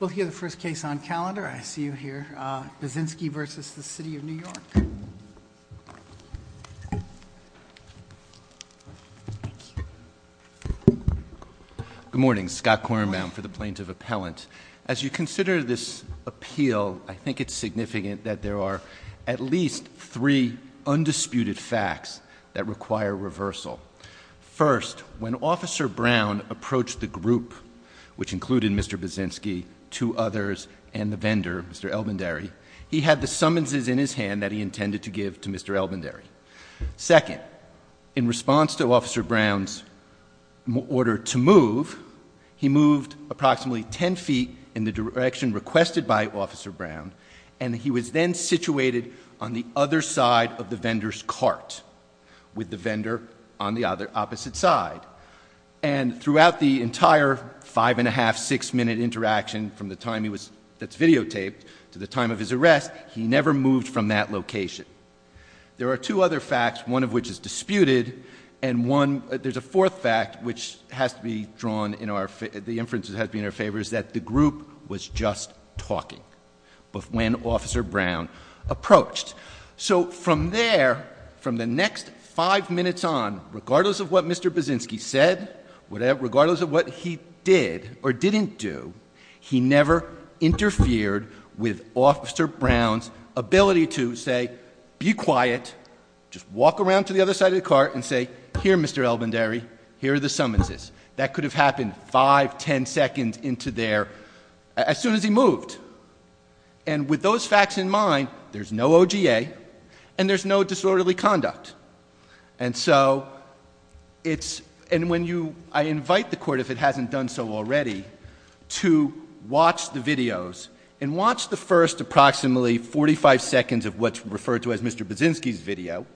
Good morning, Scott Kornbaum for the Plaintiff Appellant. As you consider this appeal, I think it's significant that there are at least three undisputed facts that require reversal. First, when Officer Brown approached the group, which included Mr. Basinski, two others, and the vendor, Mr. Elbendary, he had the summonses in his hand that he intended to give to Mr. Elbendary. Second, in response to Officer Brown's order to move, he moved approximately ten feet in the direction requested by Officer Brown, and he was then situated on the other side of the vendor's cart, with the vendor on the opposite side. And throughout the entire five-and-a-half, six-minute interaction, from the time that's videotaped to the time of his arrest, he never moved from that location. There are two other facts, one of which is disputed, and there's a fourth fact which has to be drawn in our favor, the inference that has to be in our favor, is that the group was just talking when Officer Brown approached. So from there, from the next five minutes on, regardless of what Mr. Basinski said, regardless of what he did or didn't do, he never interfered with Officer Brown's ability to say, be quiet, just walk around to the other side of the cart and say, here, Mr. Elbendary, here are the summonses. That could have happened five, ten seconds into there, as soon as he moved. And with those facts in mind, there's no OGA, and there's no disorderly conduct. And so, it's, and when you, I invite the Court, if it hasn't done so already, to watch the videos, and watch the first approximately 45 seconds of what's referred to as Mr. Basinski's video,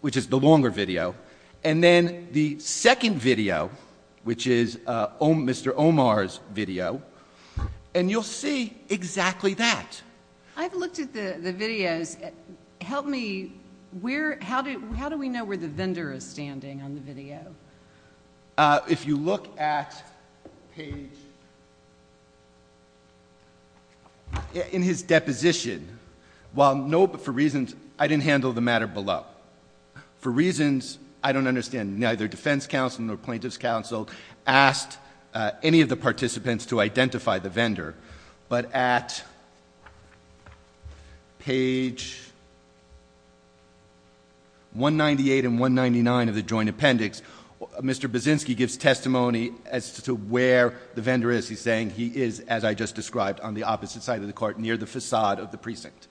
which is the longer video. And then the second video, which is Mr. Omar's video, and you'll see exactly that. I've looked at the videos, help me, where, how do we know where the vendor is standing on the video? If you look at page, in his deposition, while no, but for reasons, I didn't handle the matter below. For reasons I don't understand, neither defense counsel nor plaintiff's counsel asked any of the participants to identify the vendor. But at page 198 and 199 of the joint appendix, Mr. Basinski gives testimony as to where the vendor is. He's saying he is, as I just described, on the opposite side of the court, near the facade of the precinct.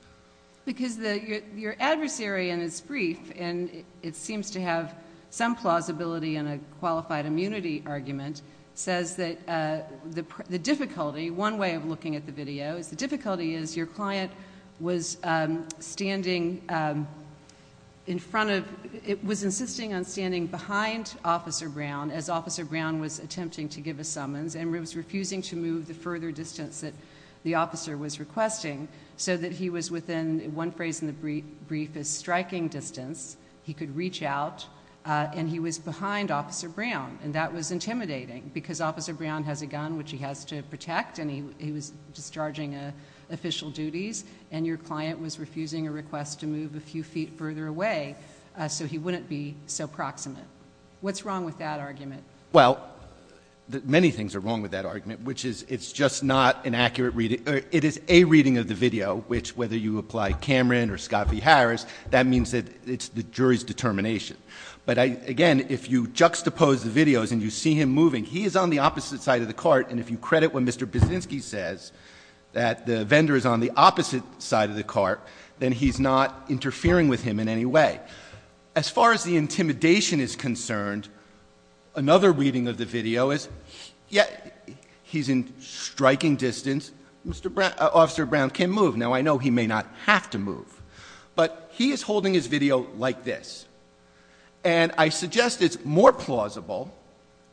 Because your adversary in his brief, and it seems to have some plausibility in a qualified immunity argument, says that the difficulty, one way of looking at the video, is the difficulty is your client was standing in front of, it was insisting on standing behind Officer Brown as Officer Brown was attempting to give a summons, and was refusing to move the further distance that the officer was requesting, so that he was within, one phrase in the brief is striking distance. He could reach out, and he was behind Officer Brown. And that was intimidating, because Officer Brown has a gun, which he has to protect, and he was discharging official duties. And your client was refusing a request to move a few feet further away, so he wouldn't be so proximate. What's wrong with that argument? Well, many things are wrong with that argument, which is it's just not an accurate reading. It is a reading of the video, which, whether you apply Cameron or Scott v. Harris, that means that it's the jury's determination. But again, if you juxtapose the videos and you see him moving, he is on the opposite side of the cart. And if you credit what Mr. Buszynski says, that the vendor is on the opposite side of the cart, then he's not interfering with him in any way. As far as the intimidation is concerned, another reading of the video is, yet he's in striking distance, Officer Brown can't move. Now, I know he may not have to move, but he is holding his video like this. And I suggest it's more plausible,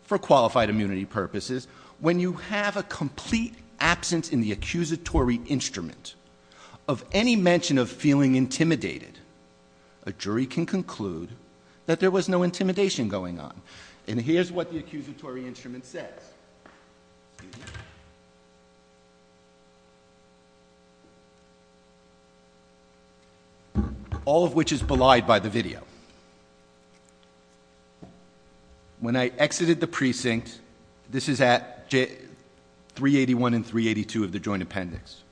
for qualified immunity purposes, when you have a complete absence in the accusatory instrument of any mention of feeling intimidated. A jury can conclude that there was no intimidation going on. And here's what the accusatory instrument says. All of which is belied by the video. When I exited the precinct, this is at 381 and 382 of the joint appendix.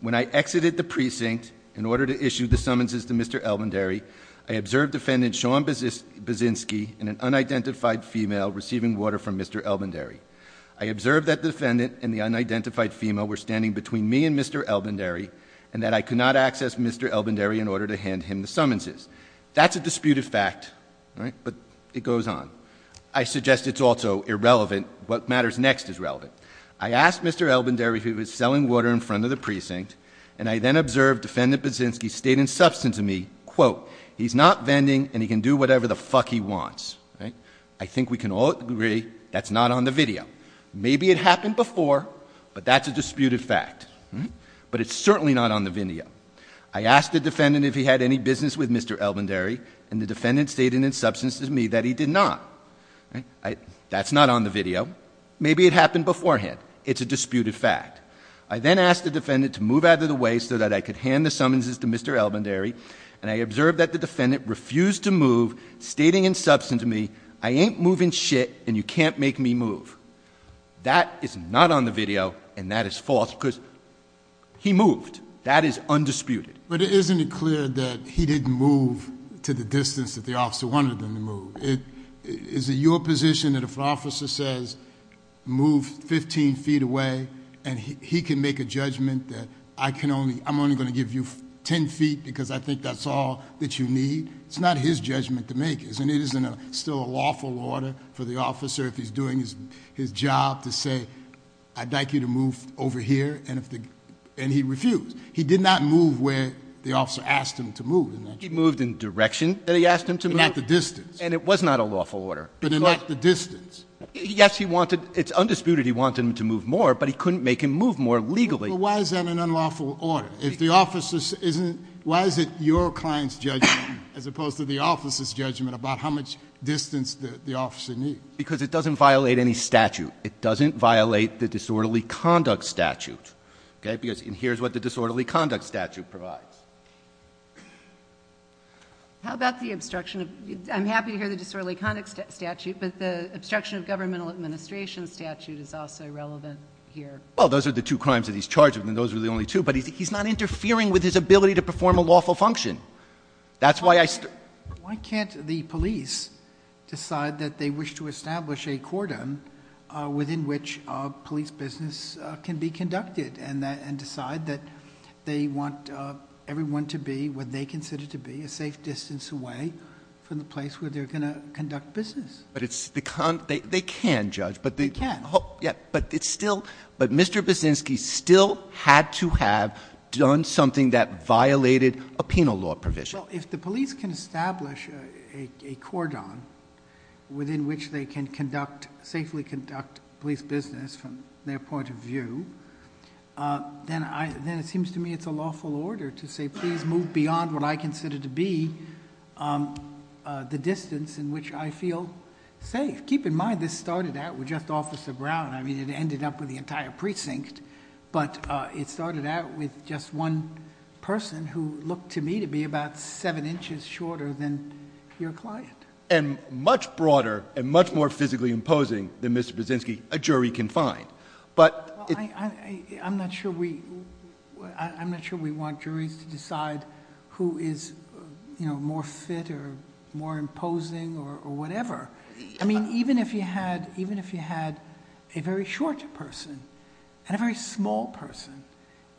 When I exited the precinct in order to issue the summonses to Mr. Elbendary, I observed defendant Sean Buszynski and an unidentified female receiving water from Mr. Elbendary. I observed that defendant and the unidentified female were standing between me and Mr. Elbendary, and that I could not access Mr. Elbendary in order to hand him the summonses. That's a disputed fact, but it goes on. I suggest it's also irrelevant, what matters next is relevant. I asked Mr. Elbendary if he was selling water in front of the precinct, and I then observed defendant Buszynski state in substance to me, quote, he's not vending and he can do whatever the fuck he wants. I think we can all agree that's not on the video. Maybe it happened before, but that's a disputed fact. But it's certainly not on the video. I asked the defendant if he had any business with Mr. Elbendary, and the defendant stated in substance to me that he did not. That's not on the video. Maybe it happened beforehand. It's a disputed fact. I then asked the defendant to move out of the way so that I could hand the summonses to Mr. Elbendary. And I observed that the defendant refused to move, stating in substance to me, I ain't moving shit, and you can't make me move. That is not on the video, and that is false, because he moved. That is undisputed. But isn't it clear that he didn't move to the distance that the officer wanted him to move? Is it your position that if an officer says, move 15 feet away, and he can make a judgment that I'm only going to give you 10 feet because I think that's all that you need? It's not his judgment to make, and it isn't still a lawful order for the officer, if he's doing his job, to say, I'd like you to move over here, and he refused. He did not move where the officer asked him to move. He moved in the direction that he asked him to move. But not the distance. And it was not a lawful order. But not the distance. Yes, it's undisputed he wanted him to move more, but he couldn't make him move more legally. But why is that an unlawful order? If the officer isn't, why is it your client's judgment as opposed to the officer's judgment about how much distance the officer needs? Because it doesn't violate any statute. It doesn't violate the disorderly conduct statute. Okay, because here's what the disorderly conduct statute provides. How about the obstruction of, I'm happy to hear the disorderly conduct statute, but the obstruction of governmental administration statute is also relevant here. Well, those are the two crimes that he's charged with, and those are the only two. But he's not interfering with his ability to perform a lawful function. That's why I. Why can't the police decide that they wish to establish a cordon within which police business can be conducted and decide that they want everyone to be what they consider to be a safe distance away from the place where they're going to conduct business. But it's the, they can judge. But they can. Yeah, but it's still, but Mr. Businski still had to have done something that violated a penal law provision. So if the police can establish a cordon within which they can conduct, safely conduct police business from their point of view, then I, then it seems to me it's a lawful order to say please move beyond what I consider to be the distance in which I feel safe. Keep in mind this started out with just Officer Brown, I mean it ended up with the entire precinct. But it started out with just one person who looked to me to be about seven inches shorter than your client. And much broader and much more physically imposing than Mr. Businski, a jury can find. But it- I'm not sure we want juries to decide who is more fit or more imposing or whatever. I mean, even if you had a very short person and a very small person,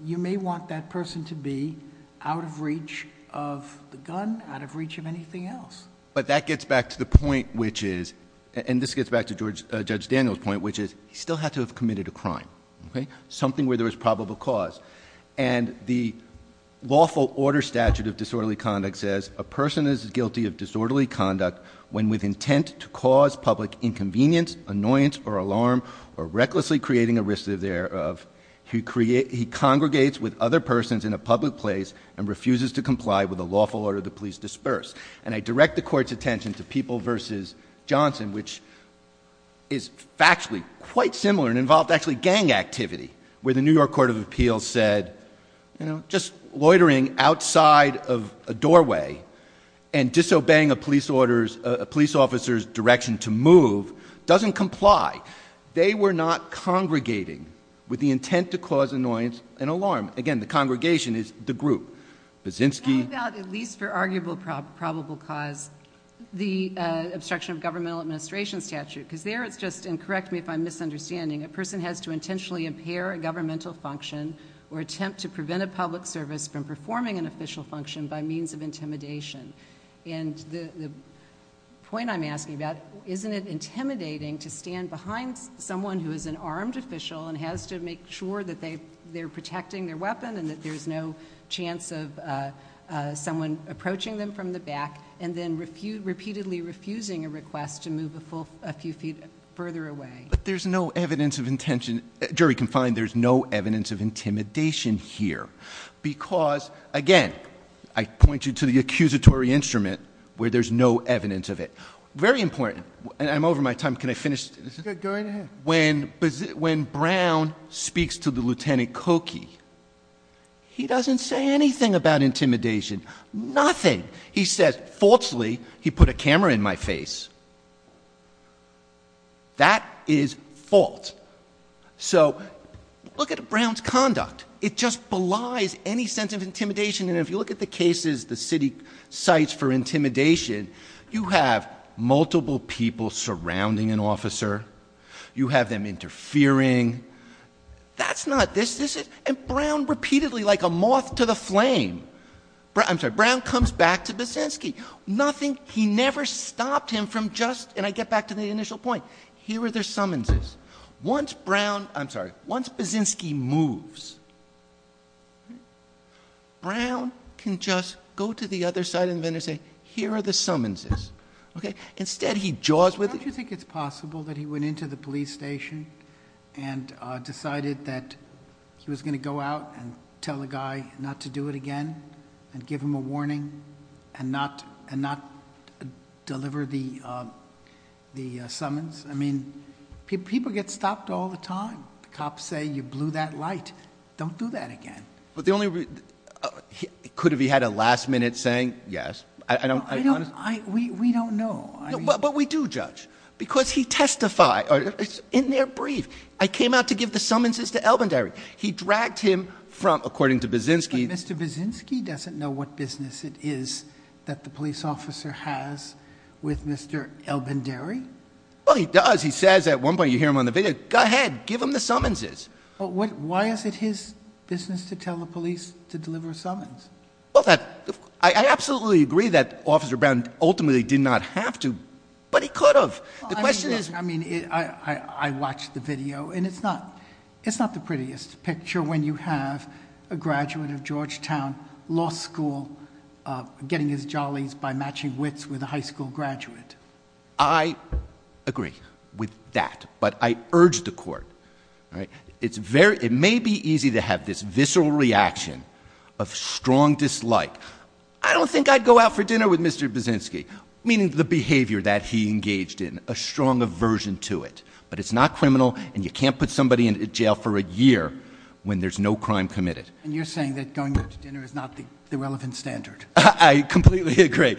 you may want that person to be out of reach of the gun, out of reach of anything else. But that gets back to the point which is, and this gets back to Judge Daniel's point, which is, he still had to have committed a crime. Something where there was probable cause. And the lawful order statute of disorderly conduct says, a person is guilty of disorderly conduct when with intent to cause public inconvenience, annoyance, or alarm, or recklessly creating a risk thereof. He congregates with other persons in a public place and refuses to comply with a lawful order to please disperse. And I direct the court's attention to People versus Johnson, which is factually quite similar and involved actually gang activity, where the New York Court of Appeals said, just loitering outside of a doorway and disobeying a police officer's direction to move doesn't comply. They were not congregating with the intent to cause annoyance and alarm. Again, the congregation is the group. Baczynski- How about, at least for arguable probable cause, the obstruction of governmental administration statute? because there it's just, and correct me if I'm misunderstanding, a person has to intentionally impair a governmental function or attempt to prevent a public service from performing an official function by means of intimidation. And the point I'm asking about, isn't it intimidating to stand behind someone who is an armed official and has to make sure that they're protecting their weapon and that there's no chance of someone approaching them from the back and then repeatedly refusing a request to move a few feet further away? But there's no evidence of intention, jury can find there's no evidence of intimidation here. Because, again, I point you to the accusatory instrument where there's no evidence of it. Very important, and I'm over my time, can I finish? Go right ahead. When Brown speaks to the Lieutenant Cokie, he doesn't say anything about intimidation, nothing. He says, falsely, he put a camera in my face. That is false. So, look at Brown's conduct. It just belies any sense of intimidation. And if you look at the cases the city cites for intimidation, you have multiple people surrounding an officer, you have them interfering. That's not this, this is, and Brown repeatedly like a moth to the flame. I'm sorry, Brown comes back to Buszynski. Nothing, he never stopped him from just, and I get back to the initial point, here are their summonses. Once Brown, I'm sorry, once Buszynski moves, Brown can just go to the other side and then say, here are the summonses. Okay, instead he jaws with it. And not deliver the summons. I mean, people get stopped all the time. Cops say you blew that light. Don't do that again. But the only, could he have had a last minute saying yes? I don't, I honestly- We don't know. But we do judge. Because he testified, in their brief, I came out to give the summonses to Elbendary. He dragged him from, according to Buszynski- That the police officer has with Mr. Elbendary? Well, he does. He says at one point, you hear him on the video, go ahead, give him the summonses. But why is it his business to tell the police to deliver a summons? Well, I absolutely agree that Officer Brown ultimately did not have to, but he could have. The question is- I mean, I watched the video, and it's not the prettiest picture when you have a graduate of Georgetown Law School getting his jollies by matching wits with a high school graduate. I agree with that, but I urge the court, all right? It may be easy to have this visceral reaction of strong dislike. I don't think I'd go out for dinner with Mr. Buszynski. Meaning the behavior that he engaged in, a strong aversion to it. But it's not criminal, and you can't put somebody in jail for a year when there's no crime committed. And you're saying that going out to dinner is not the relevant standard? I completely agree.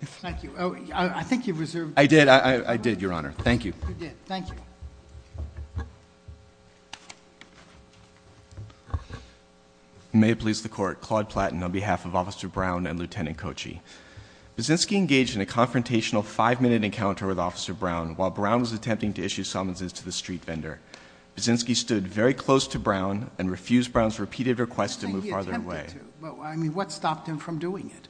Thank you. I think you've reserved- I did, I did, your honor. Thank you. You did. Thank you. May it please the court. Claude Platten on behalf of Officer Brown and Lieutenant Kochi. Buszynski engaged in a confrontational five minute encounter with Officer Brown while Brown was attempting to issue summonses to the street vendor. Buszynski stood very close to Brown and refused Brown's repeated request to move farther away. I mean, what stopped him from doing it?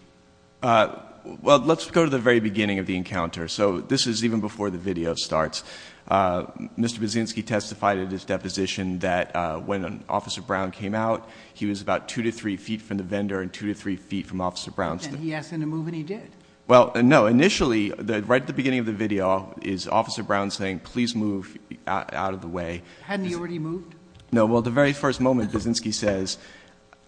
Well, let's go to the very beginning of the encounter. So this is even before the video starts. Mr. Buszynski testified at his deposition that when Officer Brown came out, he was about two to three feet from the vendor and two to three feet from Officer Brown. And he asked him to move and he did. Well, no, initially, right at the beginning of the video is Officer Brown saying, please move out of the way. Hadn't he already moved? No, well, the very first moment, Buszynski says,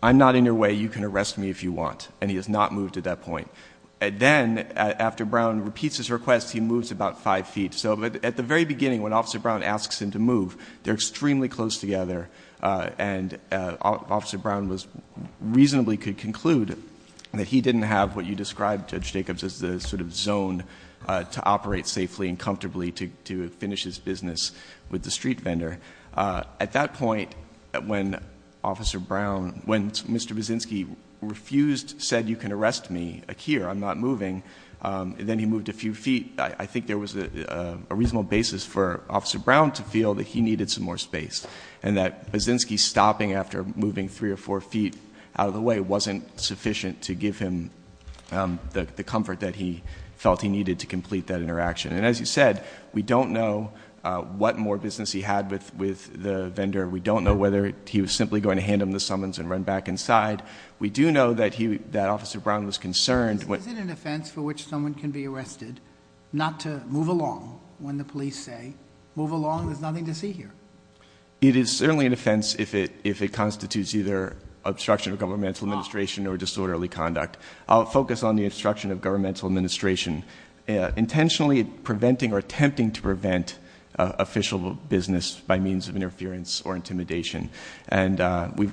I'm not in your way, you can arrest me if you want. And he has not moved at that point. Then, after Brown repeats his request, he moves about five feet. So at the very beginning, when Officer Brown asks him to move, they're extremely close together. And Officer Brown reasonably could conclude that he didn't have what you described, Judge Jacobs, as the sort of zone to operate safely and comfortably to finish his business with the street vendor. At that point, when Mr. Buszynski refused, said you can arrest me here, I'm not moving, then he moved a few feet. I think there was a reasonable basis for Officer Brown to feel that he needed some more space. And that Buszynski stopping after moving three or four feet out of the way wasn't sufficient to give him the comfort that he felt he needed to complete that interaction. And as you said, we don't know what more business he had with the vendor. We don't know whether he was simply going to hand him the summons and run back inside. We do know that Officer Brown was concerned. Is it an offense for which someone can be arrested not to move along when the police say, move along, there's nothing to see here? It is certainly an offense if it constitutes either obstruction of governmental administration or disorderly conduct. I'll focus on the obstruction of governmental administration. Intentionally preventing or attempting to prevent official business by means of interference or intimidation. And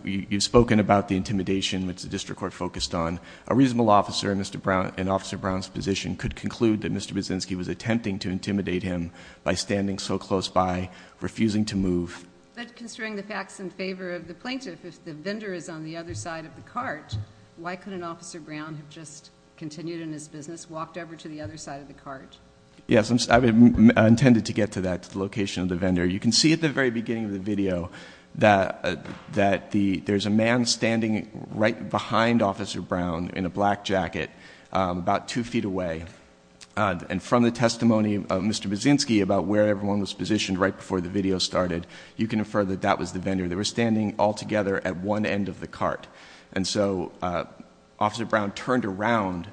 you've spoken about the intimidation which the district court focused on. A reasonable officer in Officer Brown's position could conclude that Mr. Buszynski was attempting to intimidate him by standing so close by, refusing to move. But considering the facts in favor of the plaintiff, if the vendor is on the other side of the cart, why couldn't Officer Brown have just continued in his business, walked over to the other side of the cart? Yes, I intended to get to that, to the location of the vendor. You can see at the very beginning of the video that there's a man standing right behind Officer Brown in a black jacket, about two feet away. And from the testimony of Mr. Buszynski about where everyone was positioned right before the video started, you can infer that that was the vendor. They were standing all together at one end of the cart. And so, Officer Brown turned around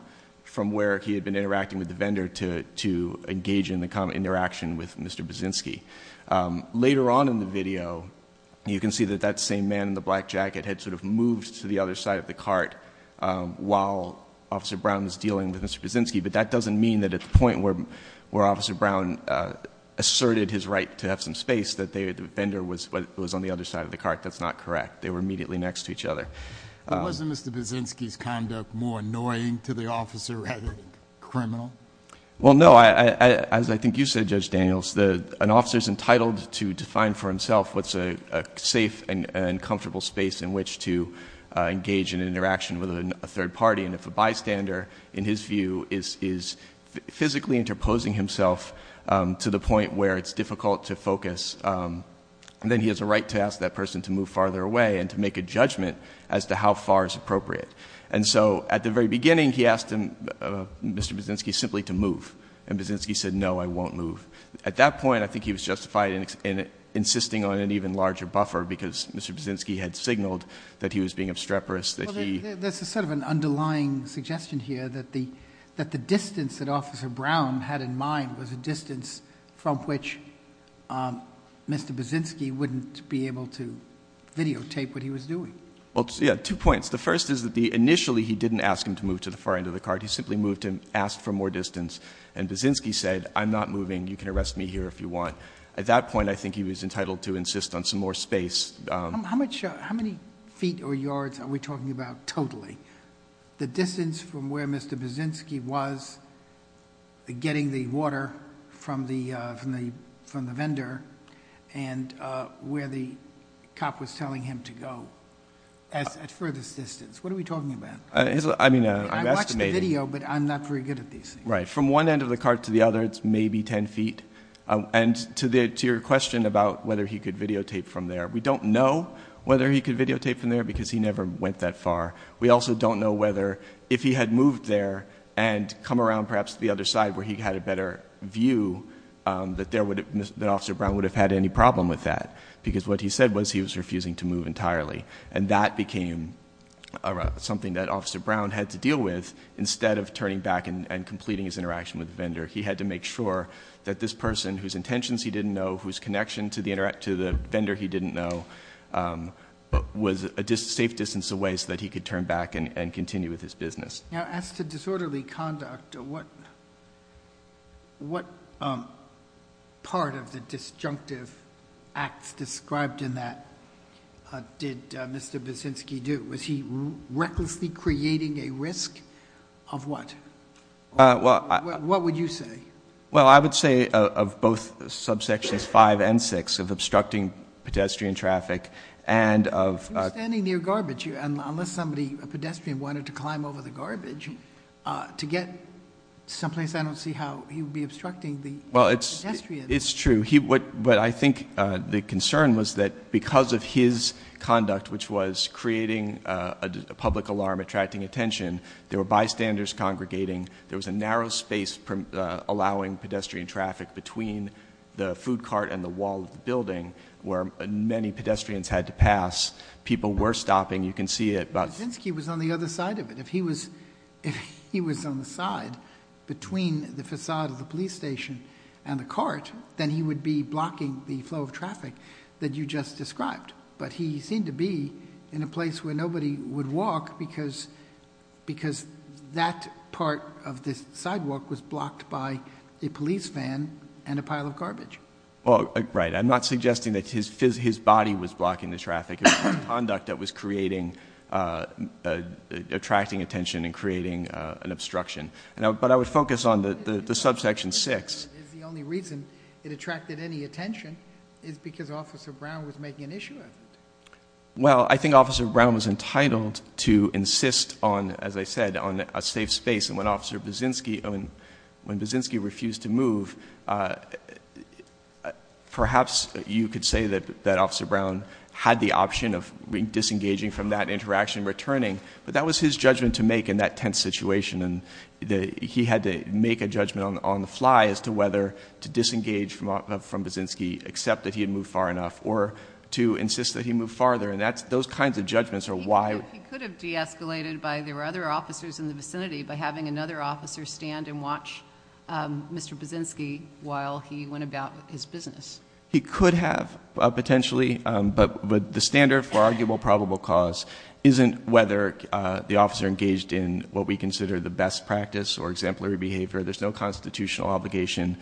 from where he had been interacting with the vendor to engage in the interaction with Mr. Buszynski. Later on in the video, you can see that that same man in the black jacket had sort of moved to the other side of the cart while Officer Brown was dealing with Mr. Buszynski. But that doesn't mean that at the point where Officer Brown asserted his right to have some space, that the vendor was on the other side of the cart, that's not correct. They were immediately next to each other. But wasn't Mr. Buszynski's conduct more annoying to the officer rather than criminal? Well, no, as I think you said, Judge Daniels, an officer's entitled to define for himself what's a safe and comfortable space in which to engage in an interaction with a third party. And if a bystander, in his view, is physically interposing himself to the point where it's difficult to focus, then he has a right to ask that person to move farther away and to make a judgment as to how far is appropriate. And so, at the very beginning, he asked Mr. Buszynski simply to move. And Buszynski said, no, I won't move. At that point, I think he was justified in insisting on an even larger buffer, because Mr. Buszynski had signaled that he was being obstreperous, that he- That's sort of an underlying suggestion here, that the distance that Officer Brown had in mind was a distance from which Mr. Buszynski wouldn't be able to videotape what he was doing. Well, yeah, two points. The first is that initially, he didn't ask him to move to the far end of the card. He simply asked for more distance. And Buszynski said, I'm not moving, you can arrest me here if you want. At that point, I think he was entitled to insist on some more space. How many feet or yards are we talking about totally? The distance from where Mr. Buszynski was getting the water from the vendor and where the cop was telling him to go. At furthest distance, what are we talking about? I mean, I'm estimating. I watched the video, but I'm not very good at these things. Right, from one end of the card to the other, it's maybe ten feet. And to your question about whether he could videotape from there, we don't know whether he could videotape from there, because he never went that far. We also don't know whether, if he had moved there and come around perhaps to the other side, where he had a better view, that Officer Brown would have had any problem with that. Because what he said was he was refusing to move entirely. And that became something that Officer Brown had to deal with instead of turning back and completing his interaction with the vendor. He had to make sure that this person, whose intentions he didn't know, whose connection to the vendor he didn't know, was a safe distance away so that he could turn back and continue with his business. Now, as to disorderly conduct, what part of the disjunctive acts described in that did Mr. Basinski do? Was he recklessly creating a risk of what? What would you say? Well, I would say of both subsections five and six, of obstructing pedestrian traffic and of- He was standing near garbage, and unless somebody, a pedestrian, wanted to climb over the garbage to get someplace, I don't see how he would be obstructing the pedestrian. Well, it's true, but I think the concern was that because of his conduct, which was creating a public alarm, attracting attention, there were bystanders congregating. There was a narrow space allowing pedestrian traffic between the food cart and the wall of the building where many pedestrians had to pass. People were stopping, you can see it, but- Basinski was on the other side of it. If he was on the side between the facade of the police station and the cart, then he would be blocking the flow of traffic that you just described. But he seemed to be in a place where nobody would walk because that part of this sidewalk was blocked by a police van and a pile of garbage. Well, right, I'm not suggesting that his body was blocking the traffic. It was his conduct that was attracting attention and creating an obstruction. But I would focus on the subsection six. If the only reason it attracted any attention is because Officer Brown was making an issue of it. Well, I think Officer Brown was entitled to insist on, as I said, on a safe space. And when Officer Basinski refused to move, perhaps you could say that Officer Brown had the option of disengaging from that interaction and returning. But that was his judgment to make in that tense situation. And he had to make a judgment on the fly as to whether to disengage from Basinski, accept that he had moved far enough, or to insist that he move farther. And those kinds of judgments are why- He could have deescalated by, there were other officers in the vicinity, by having another officer stand and watch Mr. Basinski while he went about his business. He could have, potentially, but the standard for arguable probable cause isn't whether the officer engaged in what we consider the best practice or exemplary behavior. There's no constitutional obligation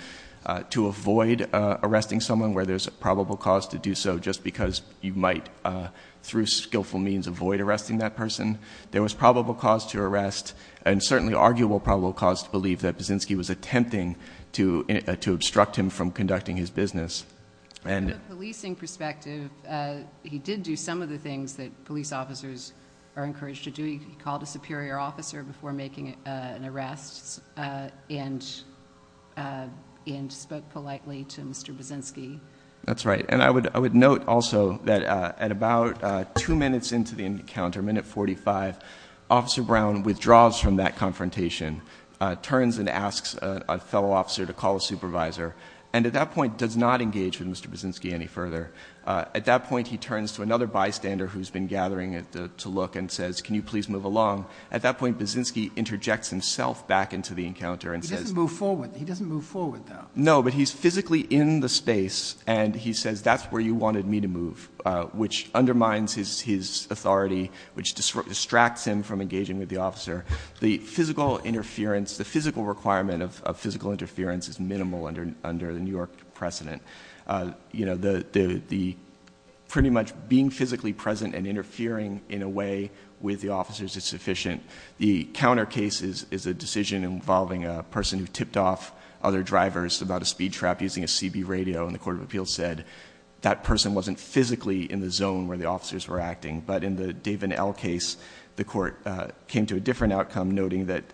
to avoid arresting someone where there's a probable cause to do so. Just because you might, through skillful means, avoid arresting that person. There was probable cause to arrest and certainly arguable probable cause to believe that Basinski was attempting to obstruct him from conducting his business. And- From a policing perspective, he did do some of the things that police officers are encouraged to do. He called a superior officer before making an arrest and spoke politely to Mr. Basinski. That's right, and I would note also that at about two minutes into the encounter, minute 45, Officer Brown withdraws from that confrontation, turns and asks a fellow officer to call a supervisor. And at that point, does not engage with Mr. Basinski any further. At that point, he turns to another bystander who's been gathering to look and says, can you please move along? At that point, Basinski interjects himself back into the encounter and says- He doesn't move forward, though. No, but he's physically in the space, and he says, that's where you wanted me to move, which undermines his authority, which distracts him from engaging with the officer. The physical requirement of physical interference is minimal under the New York precedent. Pretty much being physically present and interfering in a way with the officers is sufficient. The counter case is a decision involving a person who tipped off other drivers about a speed trap using a CB radio. And the court of appeals said, that person wasn't physically in the zone where the officers were acting. But in the David L case, the court came to a different outcome, noting that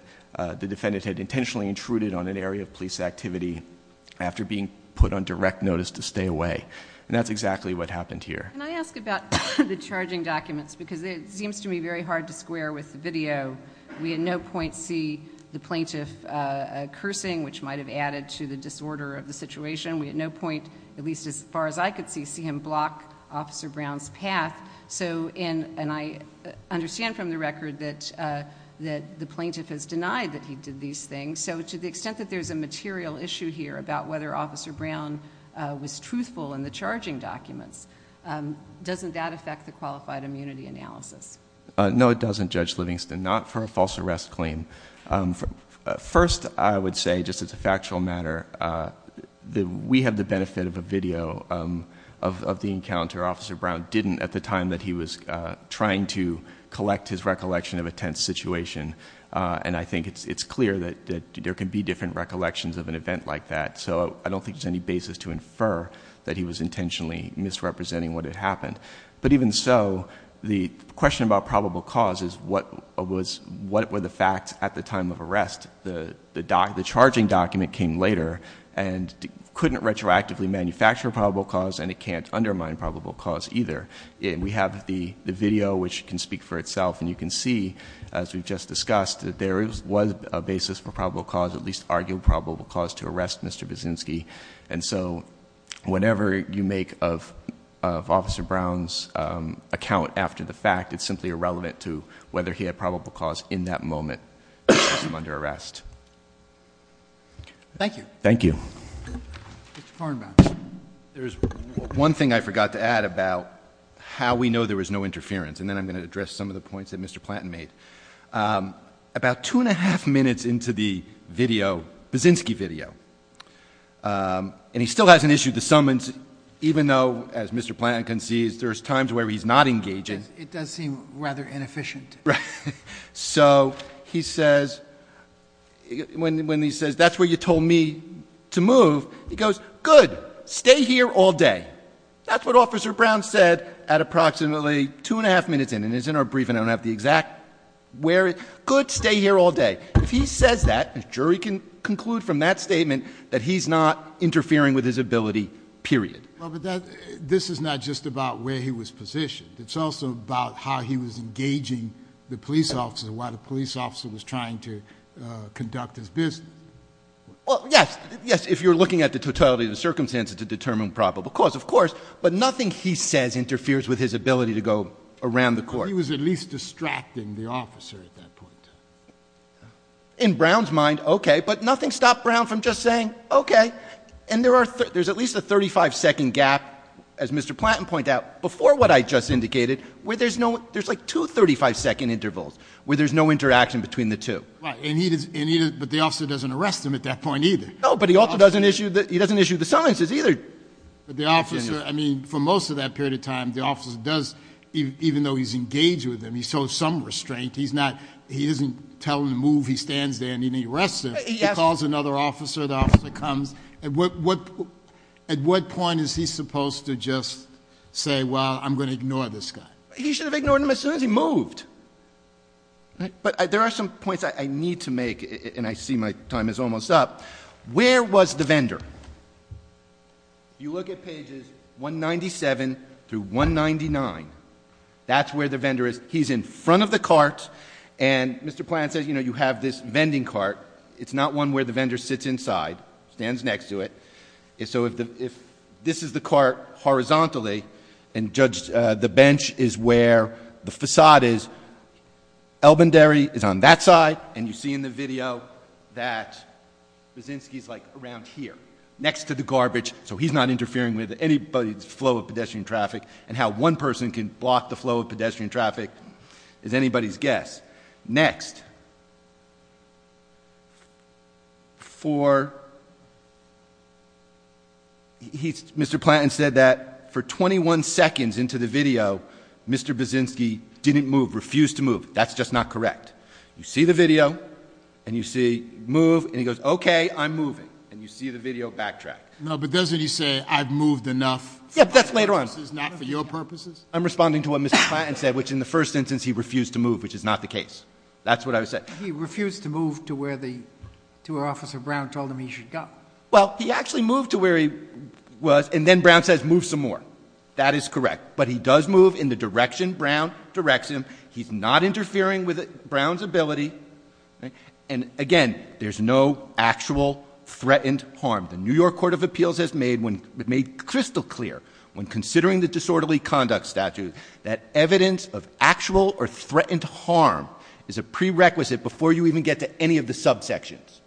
the defendant had intentionally intruded on an area of police activity after being put on direct notice to stay away. And that's exactly what happened here. Can I ask about the charging documents, because it seems to me very hard to square with the video. We at no point see the plaintiff cursing, which might have added to the disorder of the situation. We at no point, at least as far as I could see, see him block Officer Brown's path. So, and I understand from the record that the plaintiff has denied that he did these things. So to the extent that there's a material issue here about whether Officer Brown was truthful in the charging documents. Doesn't that affect the qualified immunity analysis? No, it doesn't, Judge Livingston, not for a false arrest claim. First, I would say, just as a factual matter, we have the benefit of a video of the encounter Officer Brown didn't at the time that he was trying to collect his recollection of a tense situation. And I think it's clear that there can be different recollections of an event like that. So I don't think there's any basis to infer that he was intentionally misrepresenting what had happened. But even so, the question about probable cause is what were the facts at the time of arrest? The charging document came later and couldn't retroactively manufacture probable cause and it can't undermine probable cause either. And we have the video, which can speak for itself, and you can see, as we've just discussed, that there was a basis for probable cause, at least argued probable cause to arrest Mr. Buszynski. And so, whenever you make of Officer Brown's account after the fact, it's simply irrelevant to whether he had probable cause in that moment under arrest. Thank you. Thank you. Mr. Kornbaum. There's one thing I forgot to add about how we know there was no interference. And then I'm going to address some of the points that Mr. Platton made. About two and a half minutes into the video, Buszynski video, and he still hasn't issued the summons, even though, as Mr. Platton can see, there's times where he's not engaging. It does seem rather inefficient. Right. So he says, when he says, that's where you told me to move, he goes, good, stay here all day. That's what Officer Brown said at approximately two and a half minutes in, and it's in our briefing. I don't have the exact where. Good, stay here all day. If he says that, the jury can conclude from that statement that he's not interfering with his ability, period. Well, but this is not just about where he was positioned. It's also about how he was engaging the police officer, why the police officer was trying to conduct his business. Well, yes, yes, if you're looking at the totality of the circumstances to determine probable cause, of course. But nothing he says interferes with his ability to go around the court. He was at least distracting the officer at that point. In Brown's mind, okay, but nothing stopped Brown from just saying, okay. And there's at least a 35 second gap, as Mr. Platton pointed out, before what I just indicated, where there's like two 35 second intervals, where there's no interaction between the two. Right, but the officer doesn't arrest him at that point either. No, but he also doesn't issue the summonses either. But the officer, I mean, for most of that period of time, the officer does, even though he's engaged with him, he shows some restraint. He's not, he doesn't tell him to move, he stands there and he arrests him. He calls another officer, the officer comes. At what point is he supposed to just say, well, I'm going to ignore this guy? He should have ignored him as soon as he moved. Right, but there are some points I need to make, and I see my time is almost up. Where was the vendor? You look at pages 197 through 199. That's where the vendor is. He's in front of the cart, and Mr. Platton says, you have this vending cart. It's not one where the vendor sits inside, stands next to it. So if this is the cart horizontally, and the bench is where the facade is. Elbendary is on that side, and you see in the video that Brzezinski's like around here, next to the garbage, so he's not interfering with anybody's flow of pedestrian traffic. And how one person can block the flow of pedestrian traffic is anybody's guess. Next, for Mr. Platton said that for 21 seconds into the video, Mr. Brzezinski didn't move, refused to move. That's just not correct. You see the video, and you see move, and he goes, okay, I'm moving. And you see the video backtrack. No, but doesn't he say, I've moved enough? Yeah, but that's later on. This is not for your purposes? I'm responding to what Mr. Platton said, which in the first instance, he refused to move, which is not the case. That's what I would say. He refused to move to where Officer Brown told him he should go. Well, he actually moved to where he was, and then Brown says, move some more. That is correct, but he does move in the direction Brown directs him. He's not interfering with Brown's ability, and again, there's no actual threatened harm. The New York Court of Appeals has made crystal clear when considering the disorderly conduct statute, that evidence of actual or threatened harm is a prerequisite before you even get to any of the subsections.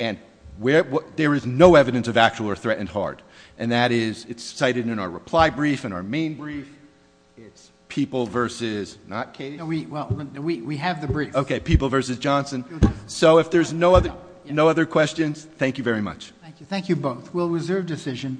And there is no evidence of actual or threatened harm. And that is, it's cited in our reply brief, in our main brief. It's people versus, not Katie? Well, we have the brief. Okay, people versus Johnson. So if there's no other questions, thank you very much. Thank you both. We'll reserve decision.